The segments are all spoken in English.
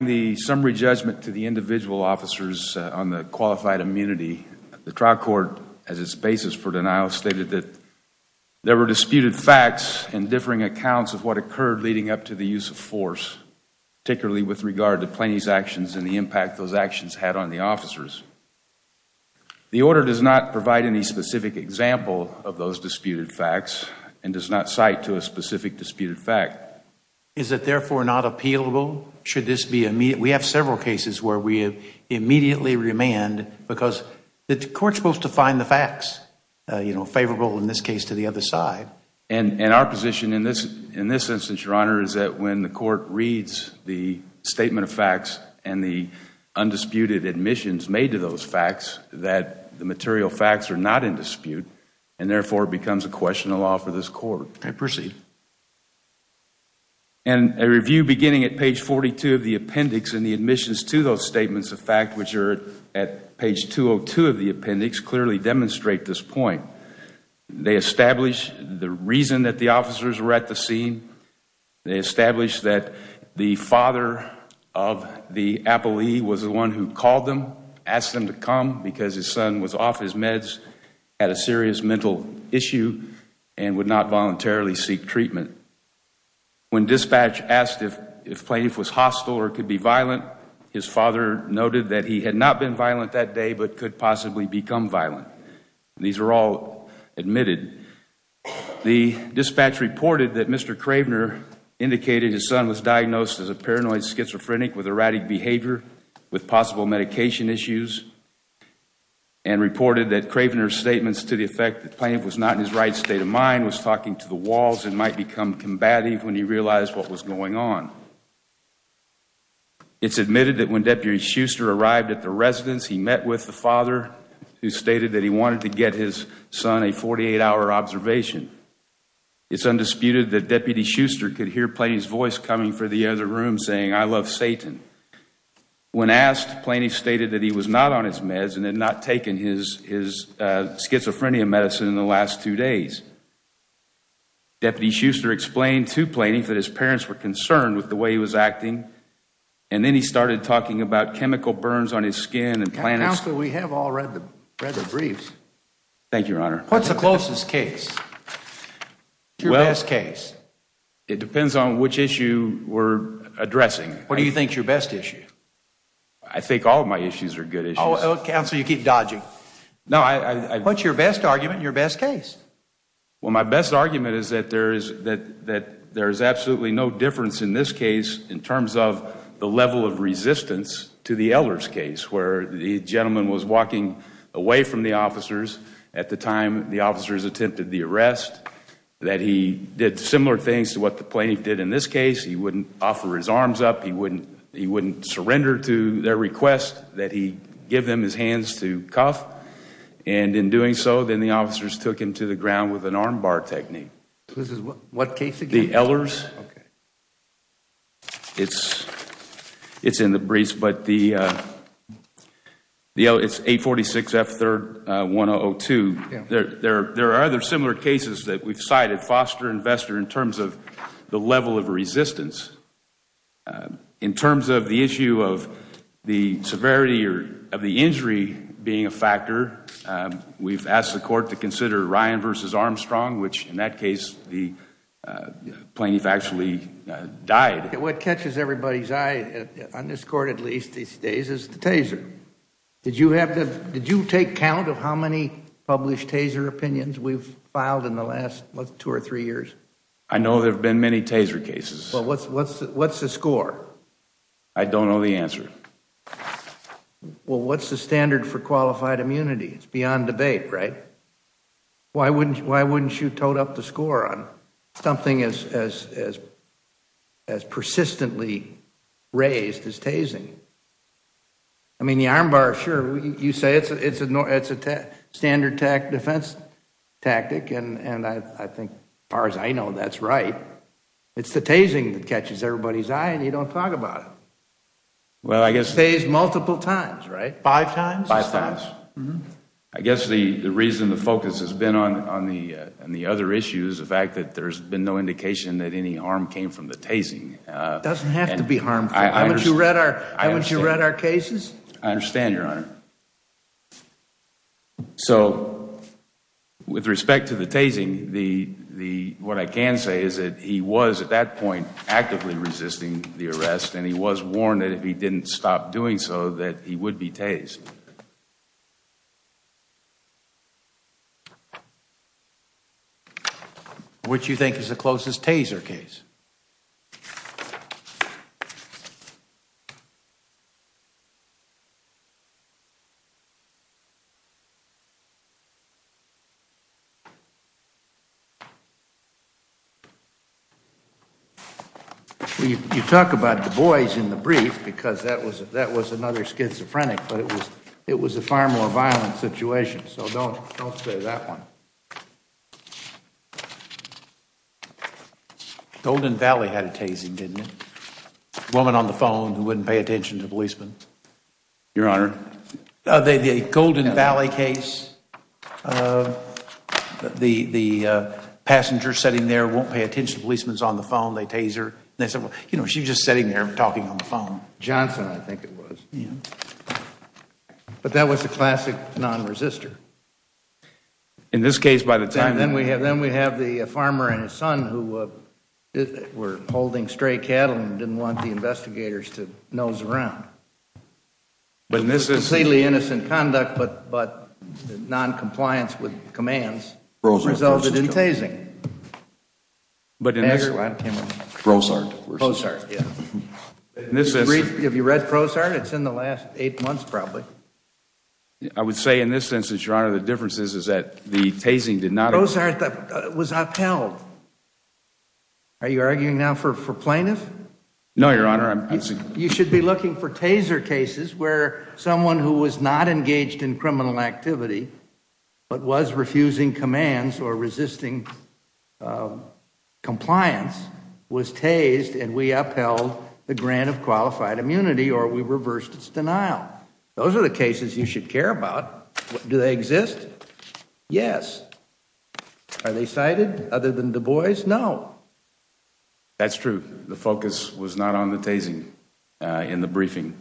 In the summary judgment to the individual officers on the qualified immunity, the trial court, as its basis for denial, stated that there were disputed facts and differing accounts of what occurred leading up to the use of force, particularly with regard to Plaintiff's actions and the impact those actions had on the officers. The order does not provide any specific example of those disputed facts and does not cite to a specific disputed fact. Is it therefore not appealable? Should this be immediate? We have several cases where we immediately remand because the court is supposed to find the facts, you know, favorable in this case to the other side. And our position in this in this instance, your honor, is that when the court reads the statement of facts and the undisputed admissions made to those facts, that the material facts are not in dispute and therefore it becomes a question of law for this court. And a review beginning at page 42 of the appendix and the admissions to those statements of fact, which are at page 202 of the appendix, clearly demonstrate this point. They establish the reason that the officers were at the scene. They establish that the father of the appellee was the one who called them, asked them to come because his son was off his meds, had a serious issue, and would not voluntarily seek treatment. When dispatch asked if Plaintiff was hostile or could be violent, his father noted that he had not been violent that day but could possibly become violent. These are all admitted. The dispatch reported that Mr. Cravener indicated his son was diagnosed as a paranoid schizophrenic with erratic behavior with possible medication issues and reported that Cravener's statements to the effect that Plaintiff was not in his right state of mind was talking to the walls and might become combative when he realized what was going on. It's admitted that when Deputy Schuster arrived at the residence, he met with the father who stated that he wanted to get his son a 48-hour observation. It's undisputed that Deputy Schuster could hear Plaintiff's voice coming from the other room saying, I love Satan. When asked, Plaintiff stated that he was not on his meds and had not taken his schizophrenia medicine in the last two days. Deputy Schuster explained to Plaintiff that his parents were concerned with the way he was acting and then he started talking about chemical burns on his skin. We have all read the briefs. Thank you, Your Honor. What's the closest case? It depends on which issue we're addressing. What do you think is your best issue? I think all of my issues are good issues. Oh, counsel, you keep dodging. What's your best argument in your best case? Well, my best argument is that there is absolutely no difference in this case in terms of the level of resistance to the Elders case where the gentleman was walking away from the officers at the time the officers attempted the arrest, that he did similar things to what the plaintiff did in this case. He wouldn't offer his arms up. He wouldn't surrender to their request that he give them his hands to cuff. And in doing so, then the officers took him to the ground with an arm bar technique. This is what case again? The Elders. It's in the briefs, but it's 846 F. 3rd 1002. There are other similar cases that we've cited, in terms of the level of resistance, in terms of the issue of the severity of the injury being a factor. We've asked the court to consider Ryan versus Armstrong, which in that case, the plaintiff actually died. What catches everybody's eye on this court, at least these days, is the taser. Did you take count of how many published taser opinions we've filed in the last two or three years? I know there have been many taser cases. Well, what's the score? I don't know the answer. Well, what's the standard for qualified immunity? It's beyond debate, right? Why wouldn't you toad up the score on something as persistently raised as tasing? I mean, the armbar, sure, you say it's a standard attack defense tactic, and I think, as far as I know, that's right. It's the tasing that catches everybody's eye, and you don't talk about it. Well, I guess. It's tased multiple times, right? Five times? Five times. I guess the reason the focus has been on the other issue is the fact that there's been no indication that any harm came from the tasing. It doesn't have to be harm. Haven't you read our cases? I understand, Your Honor. So with respect to the tasing, what I can say is that he was, at that point, actively resisting the arrest, and he was warned that if he didn't stop doing so, that he would be tased. Which you think is the closest taser case? Well, you talk about the boys in the brief, because that was another schizophrenic, but it was a far more violent situation. So don't say that one. Golden Valley had a tasing, didn't it? A woman on the phone who wouldn't pay attention to policemen. Your Honor? The Golden Valley case, the passenger sitting there won't pay attention to policemen on the phone. They tase her. She was just sitting there talking on the phone. Johnson, I think it was. But that was the classic non-resister. In this case, by the time Then we have the farmer and his son who were holding stray cattle and didn't want the investigators to nose around. Completely innocent conduct, but noncompliance with commands resulted in tasing. Have you read ProSART? It's in the last eight months, probably. I would say in this instance, Your Honor, the difference is that the tasing did not was upheld. Are you arguing now for plaintiff? No, Your Honor. You should be looking for taser cases where someone who was not engaged in criminal activity, but was refusing commands or resisting compliance, was tased and we upheld the grant of qualified immunity or we reversed its denial. Those are the cases you should care about. Do they exist? Yes. Are they cited other than Du Bois? No. That's true. The focus was not on the tasing in the briefing.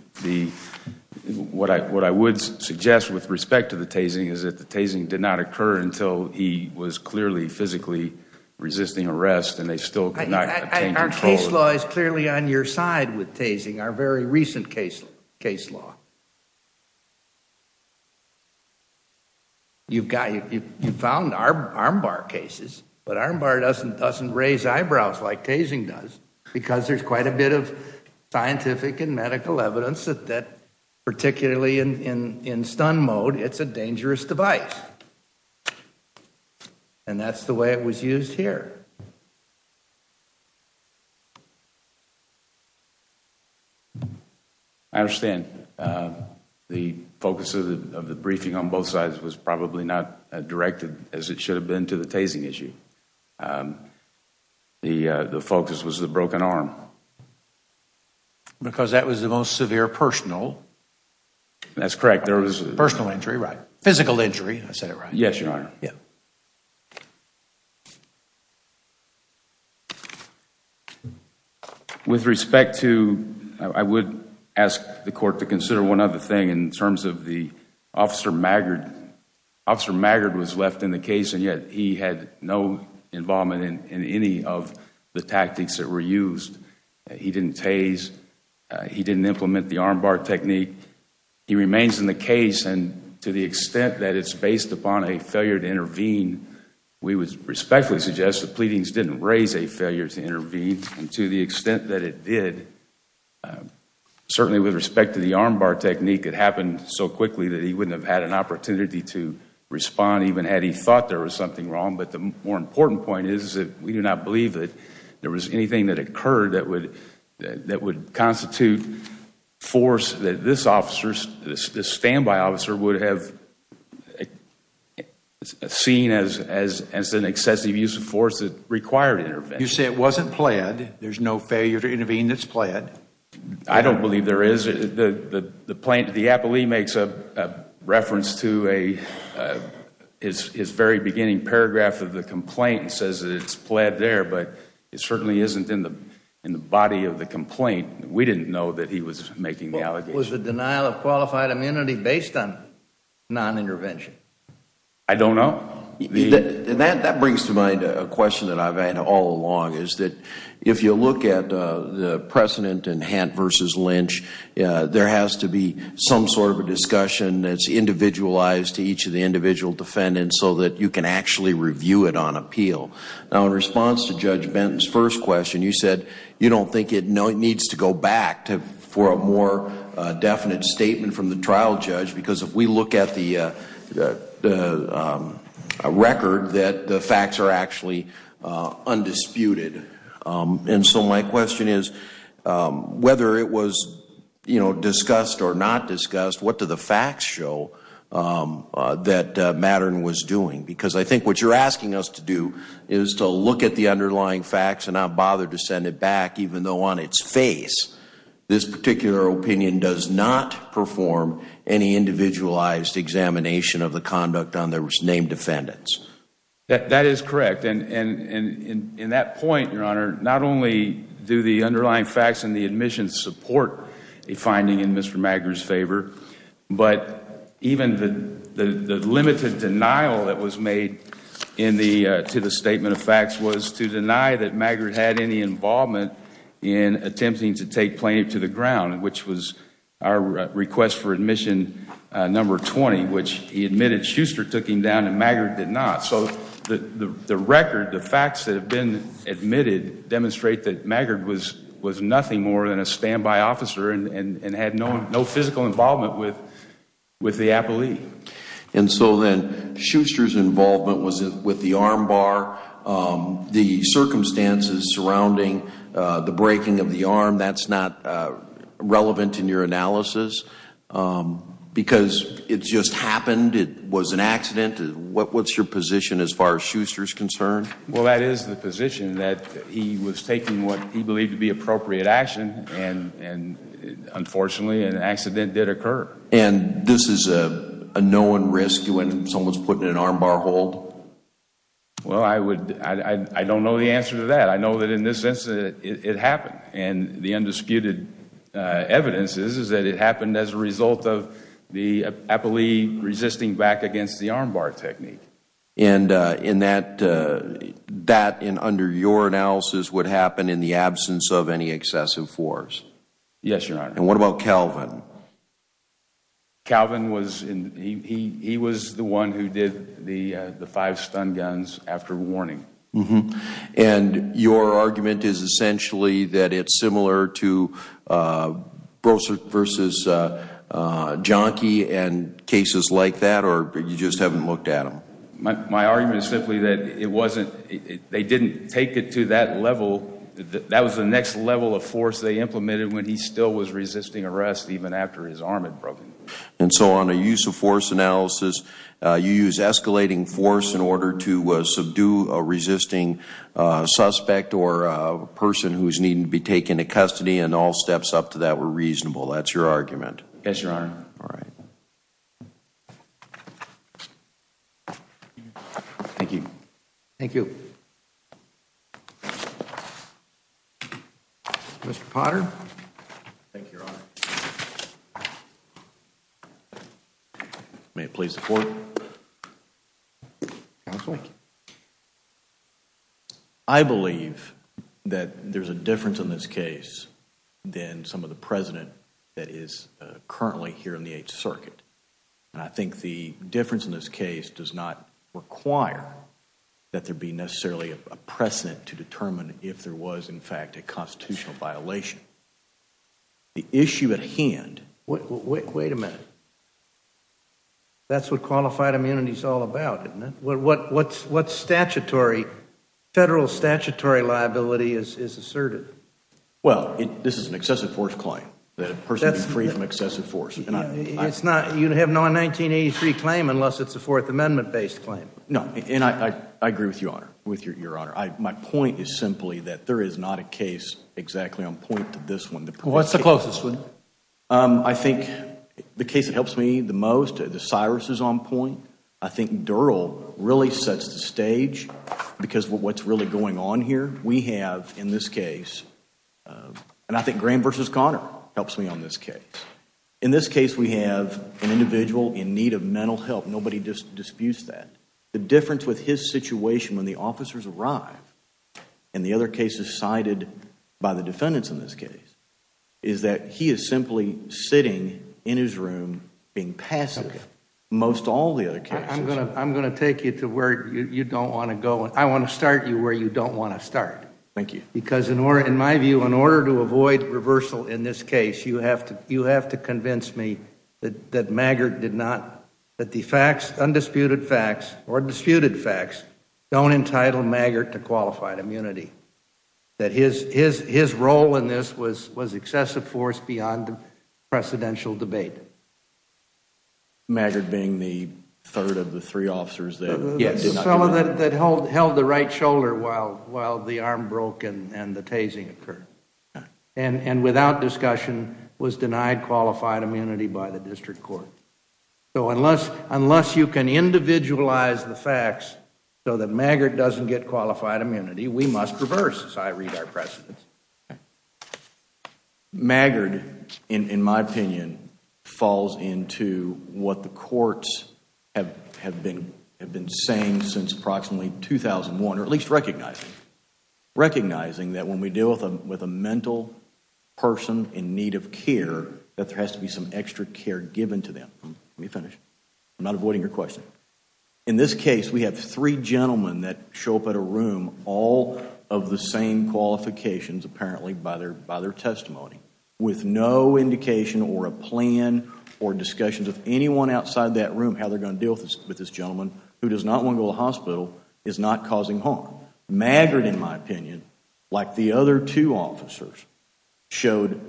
What I would suggest with respect to the tasing is that the tasing did not occur until he was clearly physically resisting arrest and they still could not obtain control. Our case law is clearly on your side with tasing, our very recent case law. You've got, you've found our arm bar cases, but arm bar doesn't doesn't raise eyebrows like tasing does because there's quite a bit of scientific and medical evidence that that particularly in in in stun mode, it's a dangerous device. And that's the way it was used here. I understand the focus of the briefing on both sides was probably not directed as it should have been to the tasing issue. The focus was the broken arm. Because that was the most severe personal. That's correct. There was a personal injury, right? Physical injury. I said it right. Yes, your honor. Yeah. With respect to, I would ask the court to consider one other thing in terms of the officer Maggard. Officer Maggard was left in the case and yet he had no involvement in any of the tactics that were used. He didn't tase. He didn't implement the arm bar technique. He remains in the case and to the extent that it's based upon a failure to intervene, we would respectfully suggest that pleadings didn't raise a failure to intervene and to the extent that it did, certainly with respect to the arm bar technique, it happened so quickly that he wouldn't have had an opportunity to respond even had he thought there was something wrong. But the more important point is that we do not believe that there was anything that occurred that would constitute force that this officer, this standby officer, would have seen as an excessive use of force that required intervention. You say it wasn't pled. There's no failure to intervene that's pled. I don't believe there is. The appellee makes a reference to his very beginning paragraph of the complaint and says it's pled there, but it certainly isn't in the body of the complaint. We didn't know that he was making the allegation. Was the denial of qualified immunity based on non-intervention? I don't know. That brings to mind a question that I've had all along is that if you look at the precedent in Hant v. Lynch, there has to be some sort of a discussion that's individualized to each individual defendant so that you can actually review it on appeal. Now, in response to Judge Benton's first question, you said you don't think it needs to go back for a more definite statement from the trial judge because if we look at the record that the facts are actually undisputed. And so my question is whether it was discussed or not discussed, what do the facts show that Mattern was doing? Because I think what you're asking us to do is to look at the underlying facts and not bother to send it back even though on its face this particular opinion does not perform any individualized examination of the conduct on their named defendants. That is correct. In that point, Your Honor, not only do the underlying facts and the admissions support a finding in Mr. Maggard's favor, but even the limited denial that was made to the statement of facts was to deny that Maggard had any involvement in attempting to take plaintiff to the ground, which was our request for admission number 20, which he admitted Schuster took him down and Maggard did not. So the record, the facts that have been admitted demonstrate that Maggard was nothing more than a standby officer and had no physical involvement with the appellee. And so then Schuster's involvement was with the arm bar, the circumstances surrounding the breaking of the arm, that's not relevant in your analysis? Because it just happened, it was an accident, what's your position as far as Schuster's concerned? Well, that is the position that he was taking what he believed to be appropriate action and unfortunately an accident did occur. And this is a known risk when someone is putting an arm bar hold? Well, I don't know the answer to that. I know that in this instance it happened and the undisputed evidence is that it happened as a result of the appellee resisting back against the arm bar technique. And that under your analysis would happen in the absence of any excessive force? Yes, Your Honor. And what about Calvin? Calvin was, he was the one who did the five stun guns after warning. And your argument is essentially that it's similar to versus Jahnke and cases like that or you just haven't looked at them? My argument is simply that it wasn't, they didn't take it to that level, that was the next level of force they implemented when he still was resisting arrest even after his arm had broken. And so on a use of force analysis, you use escalating force in order to subdue a resisting suspect or a person who's needing to be taken to custody and all steps up to that were reasonable. That's your argument? Yes, Your Honor. All right. Thank you. Thank you. Mr. Potter. Thank you, Your Honor. May it please the Court. Counsel. I believe that there's a difference in this case than some of the President that is currently here in the Eighth Circuit. And I think the difference in this case does not require that there be necessarily a precedent to determine if there was, in fact, a constitutional violation. The issue at hand. Wait a minute. That's what qualified immunity is all about, isn't it? What statutory, federal statutory liability is asserted? Well, this is an excessive force claim that a person is free from excessive force. It's not. You have no 1983 claim unless it's a Fourth Amendment-based claim. No, and I agree with you, Your Honor. My point is simply that there is not a case exactly on point to this one. What's the closest one? I think the case that helps me the most, the Cyrus is on point. I think Durrell really sets the stage because what's really going on here, we have in this case, and I think Graham versus Connor helps me on this case. In this case, we have an individual in need of mental help. Nobody disputes that. The difference with his situation when the officers arrive, and the other cases cited by the defendants in this case, is that he is simply sitting in his room being passive. Most all the other cases. I'm going to take you to where you don't want to go. I want to start you where you don't want to start. Thank you. In my view, in order to avoid reversal in this case, you have to convince me that Maggard did not, that the facts, undisputed facts, or disputed facts, don't entitle Maggard to qualified immunity. That his role in this was excessive force beyond the precedential debate. Maggard being the third of the three officers that did not do that? That held the right shoulder while the arm broke and the tasing occurred, and without discussion was denied qualified immunity by the district court. Unless you can individualize the facts so that Maggard doesn't get qualified immunity, we must reverse, as I read our precedents. Okay. Maggard, in my opinion, falls into what the courts have been saying since approximately 2001, or at least recognizing. Recognizing that when we deal with a mental person in need of care, that there has to be some extra care given to them. Let me finish. I'm not avoiding your question. In this case, we have three gentlemen that show up at a room, all of the same qualifications, apparently, by their testimony. With no indication, or a plan, or discussions of anyone outside that room, how they're going to deal with this gentleman, who does not want to go to the hospital, is not causing harm. Maggard, in my opinion, like the other two officers, showed,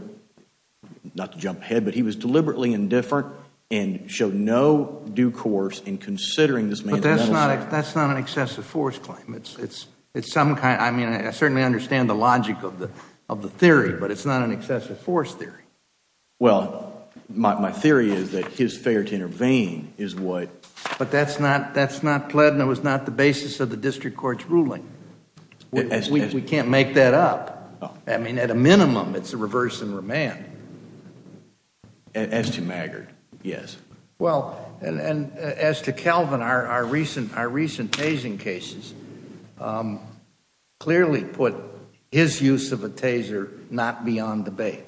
not to jump ahead, but he was deliberately indifferent and showed no due course in considering this man's mental health. That's not an excessive force claim. It's some kind, I mean, I certainly understand the logic of the theory, but it's not an excessive force theory. Well, my theory is that his failure to intervene is what. But that's not, that's not, Pledna was not the basis of the district court's ruling. We can't make that up. I mean, at a minimum, it's a reverse in remand. As to Maggard, yes. Well, and as to Calvin, our recent tasing cases clearly put his use of a taser not beyond debate.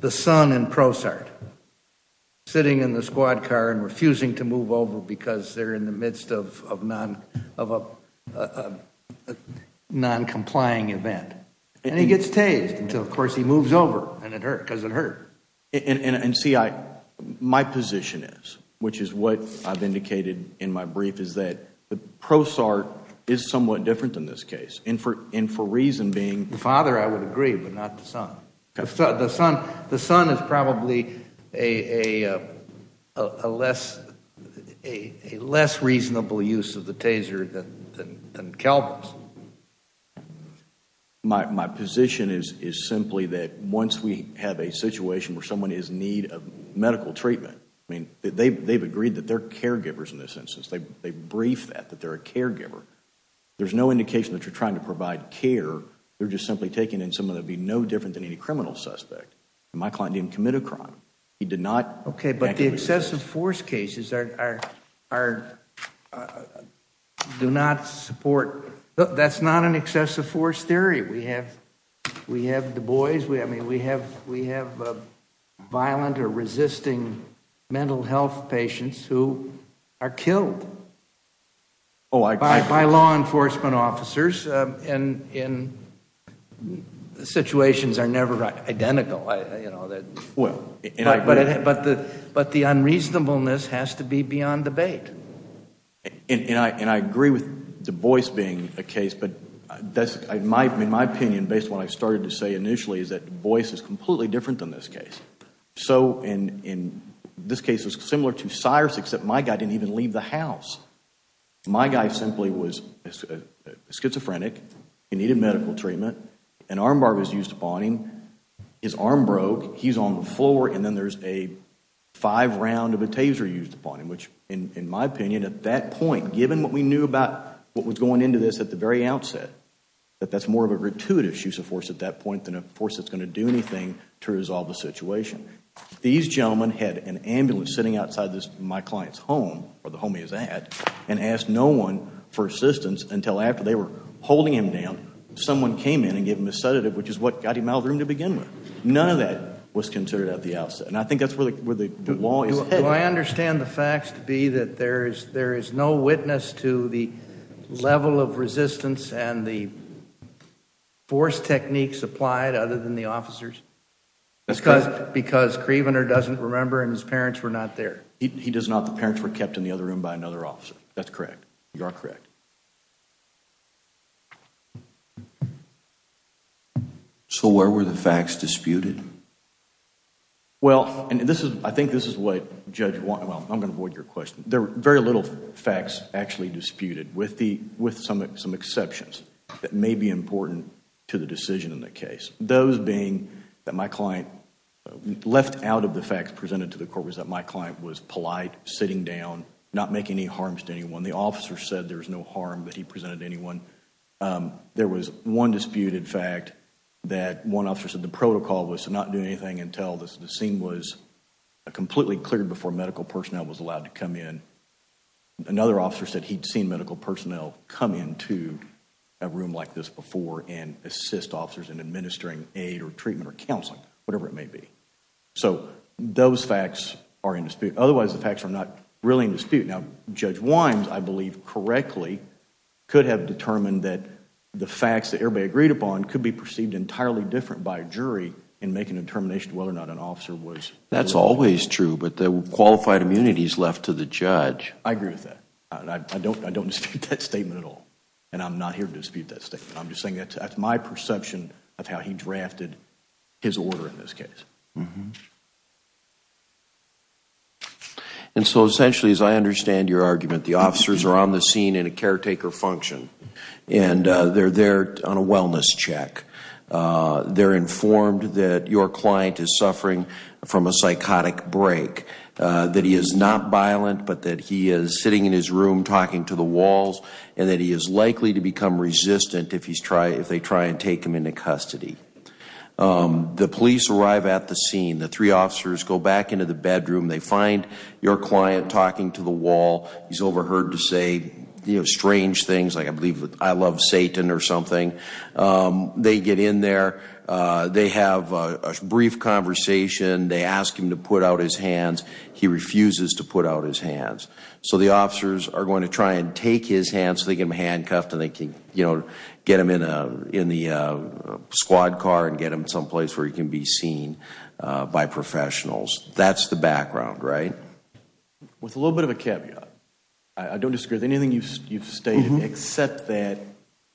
The son in Prosart, sitting in the squad car and refusing to move over because they're in the midst of a non-complying event, and he gets tased until, of course, he moves over and it hurt, because it hurt. And see, my position is, which is what I've indicated in my brief, is that the Prosart is somewhat different than this case. And for reason being. Father, I would agree, but not the son. The son is probably a less reasonable use of the taser than Calvin's. My, my position is, is simply that once we have a situation where someone is in need of medical treatment, I mean, they've agreed that they're caregivers in this instance. They briefed that, that they're a caregiver. There's no indication that you're trying to provide care. They're just simply taking in someone that would be no different than any criminal suspect. My client didn't commit a crime. He did not. Okay, but the excessive force cases are, are, are, do not support. That's not an excessive force theory. We have, we have Du Bois. We, I mean, we have, we have violent or resisting mental health patients who are killed. Oh, I. By law enforcement officers, and, and situations are never identical. I, you know, that. Well, and I agree. But the, but the unreasonableness has to be beyond debate. And, and I, and I agree with Du Bois being a case. But that's my, in my opinion, based on what I started to say initially, is that Du Bois is completely different than this case. So, and, and this case is similar to Cyrus, except my guy didn't even leave the house. My guy simply was schizophrenic. He needed medical treatment. An arm bar was used upon him. His arm broke. He's on the floor. And then there's a five round of a taser used upon him. Which, in, in my opinion, at that point, given what we knew about what was going into this at the very outset, that that's more of a gratuitous use of force at that point than a force that's going to do anything to resolve the situation. These gentlemen had an ambulance sitting outside this, my client's home, or the home he was at, and asked no one for assistance until after they were holding him down, someone came in and gave him a sedative, which is what got him out of the room to begin with. None of that was considered at the outset. And I think that's where the, where the wall is headed. Do I understand the facts to be that there is, there is no witness to the level of resistance and the force techniques applied other than the officers? Because Creevener doesn't remember and his parents were not there. He does not. The parents were kept in the other room by another officer. That's correct. You are correct. So where were the facts disputed? Well, and this is, I think this is what Judge, well, I'm going to avoid your question. There were very little facts actually disputed with the, with some exceptions that may be important to the decision in the case. Those being that my client, left out of the facts presented to the court, was that my client was polite, sitting down, not making any harms to anyone. The officer said there was no harm that he presented to anyone. There was one dispute, in fact, that one officer said the protocol was to not do anything until the scene was completely cleared before medical personnel was allowed to come in. Another officer said he'd seen medical personnel come into a room like this before and assist officers in administering aid or treatment or counseling, whatever it may be. So those facts are in dispute. Otherwise, the facts are not really in dispute. Now, Judge Wimes, I believe correctly, could have determined that the facts that everybody agreed upon could be perceived entirely different by a jury in making a determination whether or not an officer was. That's always true, but the qualified immunity is left to the judge. I agree with that. I don't dispute that statement at all. And I'm not here to dispute that statement. I'm just saying that's my perception of how he drafted his order in this case. Mm-hmm. And so essentially, as I understand your argument, the officers are on the scene in a caretaker function, and they're there on a wellness check. They're informed that your client is suffering from a psychotic break, that he is not violent, but that he is sitting in his room talking to the walls, and that he is likely to become resistant if they try and take him into custody. The police arrive at the scene. The three officers go back into the bedroom. They find your client talking to the wall. He's overheard to say strange things like, I believe, I love Satan or something. They get in there. They have a brief conversation. They ask him to put out his hands. He refuses to put out his hands. So the officers are going to try and take his hands so they get him handcuffed and they get him in the squad car and get him someplace where he can be seen by professionals. That's the background, right? With a little bit of a caveat. I don't disagree with anything you've stated except that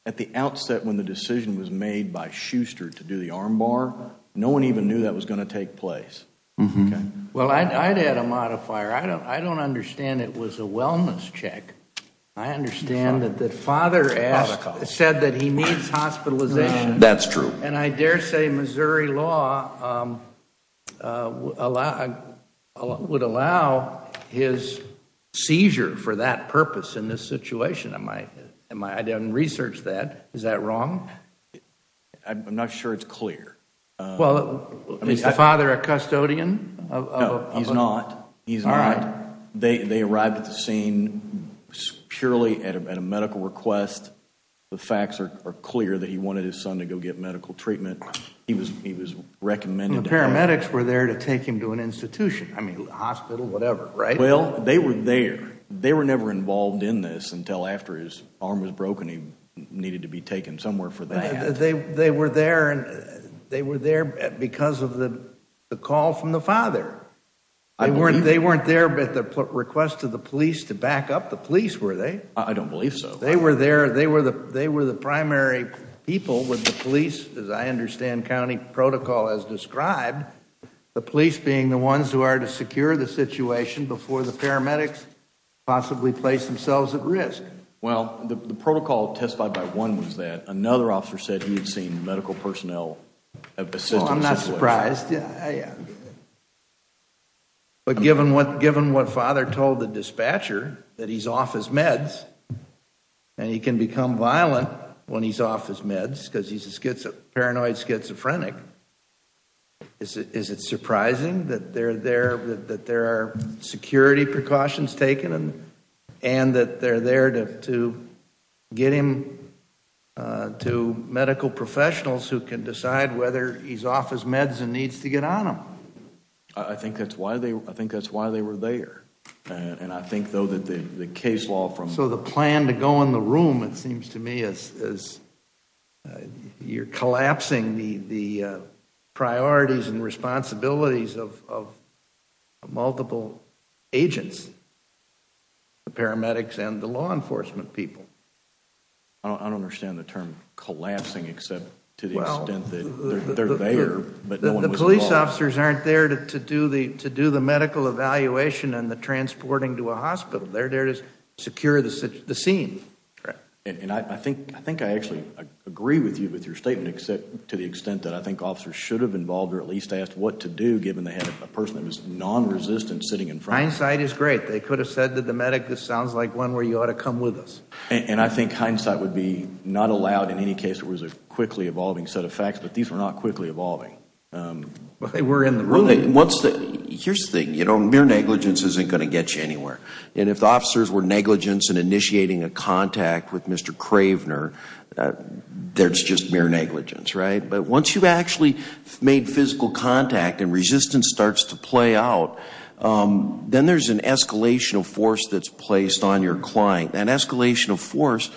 at the outset when the decision was made by Schuster to do the armbar, no one even knew that was going to take place. Well, I'd add a modifier. I don't understand it was a wellness check. I understand that the father said that he needs hospitalization. That's true. And I dare say Missouri law would allow his seizure for that purpose in this situation. I didn't research that. Is that wrong? I'm not sure it's clear. Well, is the father a custodian? No, he's not. He's not. They arrived at the scene purely at a medical request. The facts are clear that he wanted his son to go get medical treatment. He was recommended. The paramedics were there to take him to an institution. I mean, hospital, whatever, right? Well, they were there. They were never involved in this until after his arm was broken. He needed to be taken somewhere for that. They were there because of the call from the father. I believe. They weren't there at the request of the police to back up. The police were there. I don't believe so. They were there. They were the primary people with the police, as I understand county protocol has described, the police being the ones who are to secure the situation before the paramedics possibly place themselves at risk. Well, the protocol testified by one was that another officer said he had seen medical personnel. I'm not surprised. But given what given what father told the dispatcher that he's off his meds and he can become violent when he's off his meds because he's a paranoid schizophrenic. Is it surprising that they're there, that there are security precautions taken and that they're there to get him to medical professionals who can decide whether he's off his meds and needs to get on them? I think that's why they I think that's why they were there. And I think, though, that the case law from. So the plan to go in the room, it seems to me, is you're collapsing the priorities and responsibilities of multiple agents. The paramedics and the law enforcement people. I don't understand the term collapsing, except to the extent that they're there. The police officers aren't there to do the to do the medical evaluation and the transporting to a hospital. They're there to secure the scene. And I think I think I actually agree with you with your statement, except to the extent that I think officers should have involved or at least asked what to do, given they had a person that was nonresistant sitting in front. Hindsight is great. They could have said to the medic, this sounds like one where you ought to come with us. And I think hindsight would be not allowed in any case. It was a quickly evolving set of facts, but these were not quickly evolving. They were in the room. Here's the thing. Mere negligence isn't going to get you anywhere. And if the officers were negligence in initiating a contact with Mr. Cravener, there's just mere negligence, right? But once you've actually made physical contact and resistance starts to play out, then there's an escalation of force that's placed on your client. And escalation of force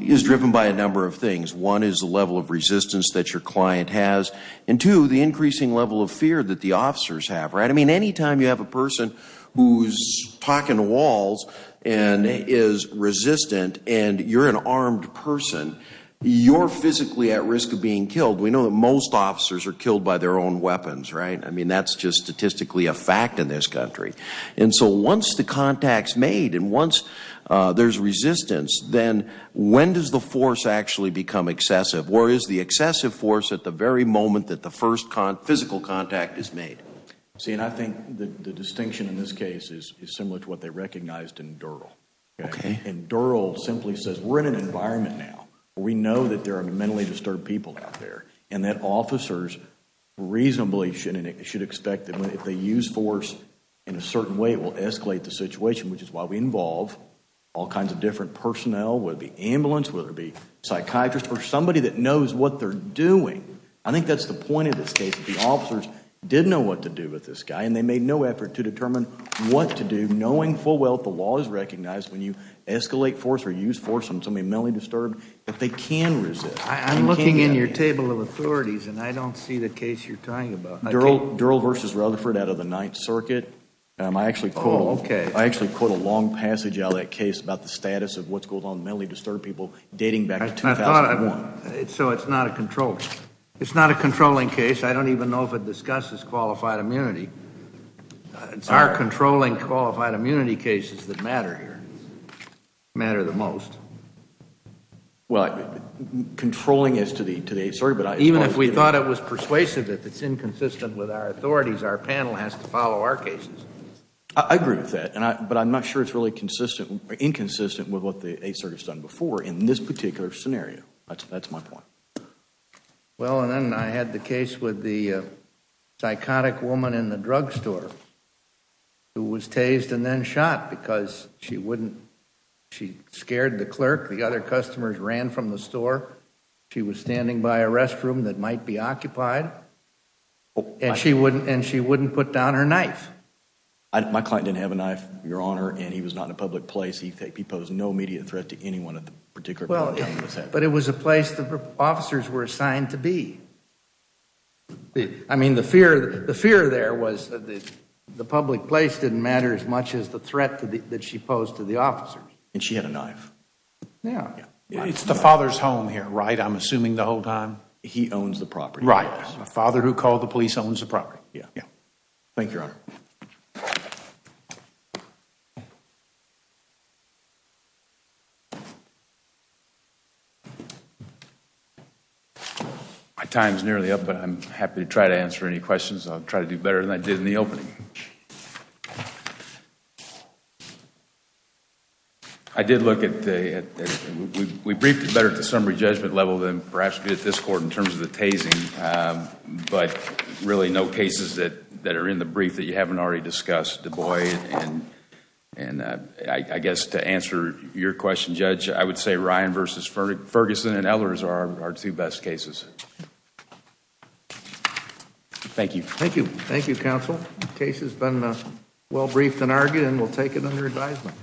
is driven by a number of things. One is the level of resistance that your client has. And two, the increasing level of fear that the officers have, right? I mean, anytime you have a person who's talking to walls and is resistant, and you're an armed person, you're physically at risk of being killed. We know that most officers are killed by their own weapons, right? I mean, that's just statistically a fact in this country. And so once the contact's made and once there's resistance, then when does the force actually become excessive? Or is the excessive force at the very moment that the first physical contact is made? See, and I think the distinction in this case is similar to what they recognized in Durrell. And Durrell simply says, we're in an environment now. We know that there are mentally disturbed people out there. And that officers reasonably should expect that if they use force in a certain way, it will escalate the situation. Which is why we involve all kinds of different personnel, whether it be ambulance, whether it be psychiatrist, or somebody that knows what they're doing. I think that's the point of this case. The officers did know what to do with this guy. And they made no effort to determine what to do, knowing full well the law is recognized when you escalate force or use force on somebody mentally disturbed. But they can resist. I'm looking in your table of authorities, and I don't see the case you're talking about. Durrell versus Rutherford out of the Ninth Circuit. I actually called. Oh, okay. I actually quote a long passage out of that case about the status of what's going on with mentally disturbed people dating back to 2001. So it's not a controlling case. I don't even know if it discusses qualified immunity. It's our controlling qualified immunity cases that matter here, matter the most. Well, controlling is to the... Sorry, but I... Even if we thought it was persuasive, if it's inconsistent with our authorities, our panel has to follow our cases. I agree with that. But I'm not sure it's really inconsistent with what the 8th Circuit's done before in this particular scenario. That's my point. Well, and then I had the case with the psychotic woman in the drugstore who was tased and then shot because she wouldn't... She scared the clerk. The other customers ran from the store. She was standing by a restroom that might be occupied. And she wouldn't put down her knife. My client didn't have a knife, Your Honor. And he was not in a public place. He posed no immediate threat to anyone at the particular time he was there. But it was a place the officers were assigned to be. I mean, the fear there was that the public place didn't matter as much as the threat that she posed to the officers. And she had a knife. Yeah. It's the father's home here, right? I'm assuming the whole time. He owns the property. Right. The father who called the police owns the property. Yeah, yeah. Thank you, Your Honor. Thank you, Your Honor. My time is nearly up, but I'm happy to try to answer any questions. I'll try to do better than I did in the opening. I did look at the... We briefed it better at the summary judgment level than perhaps we did at this court in terms of the tasing. But really, no cases that are in the brief that you haven't already discussed, Dubois. And I guess to answer your question, Judge, I would say Ryan versus Ferguson and Ellers are our two best cases. Thank you. Thank you. Thank you, counsel. The case has been well briefed and argued, and we'll take it under advisement.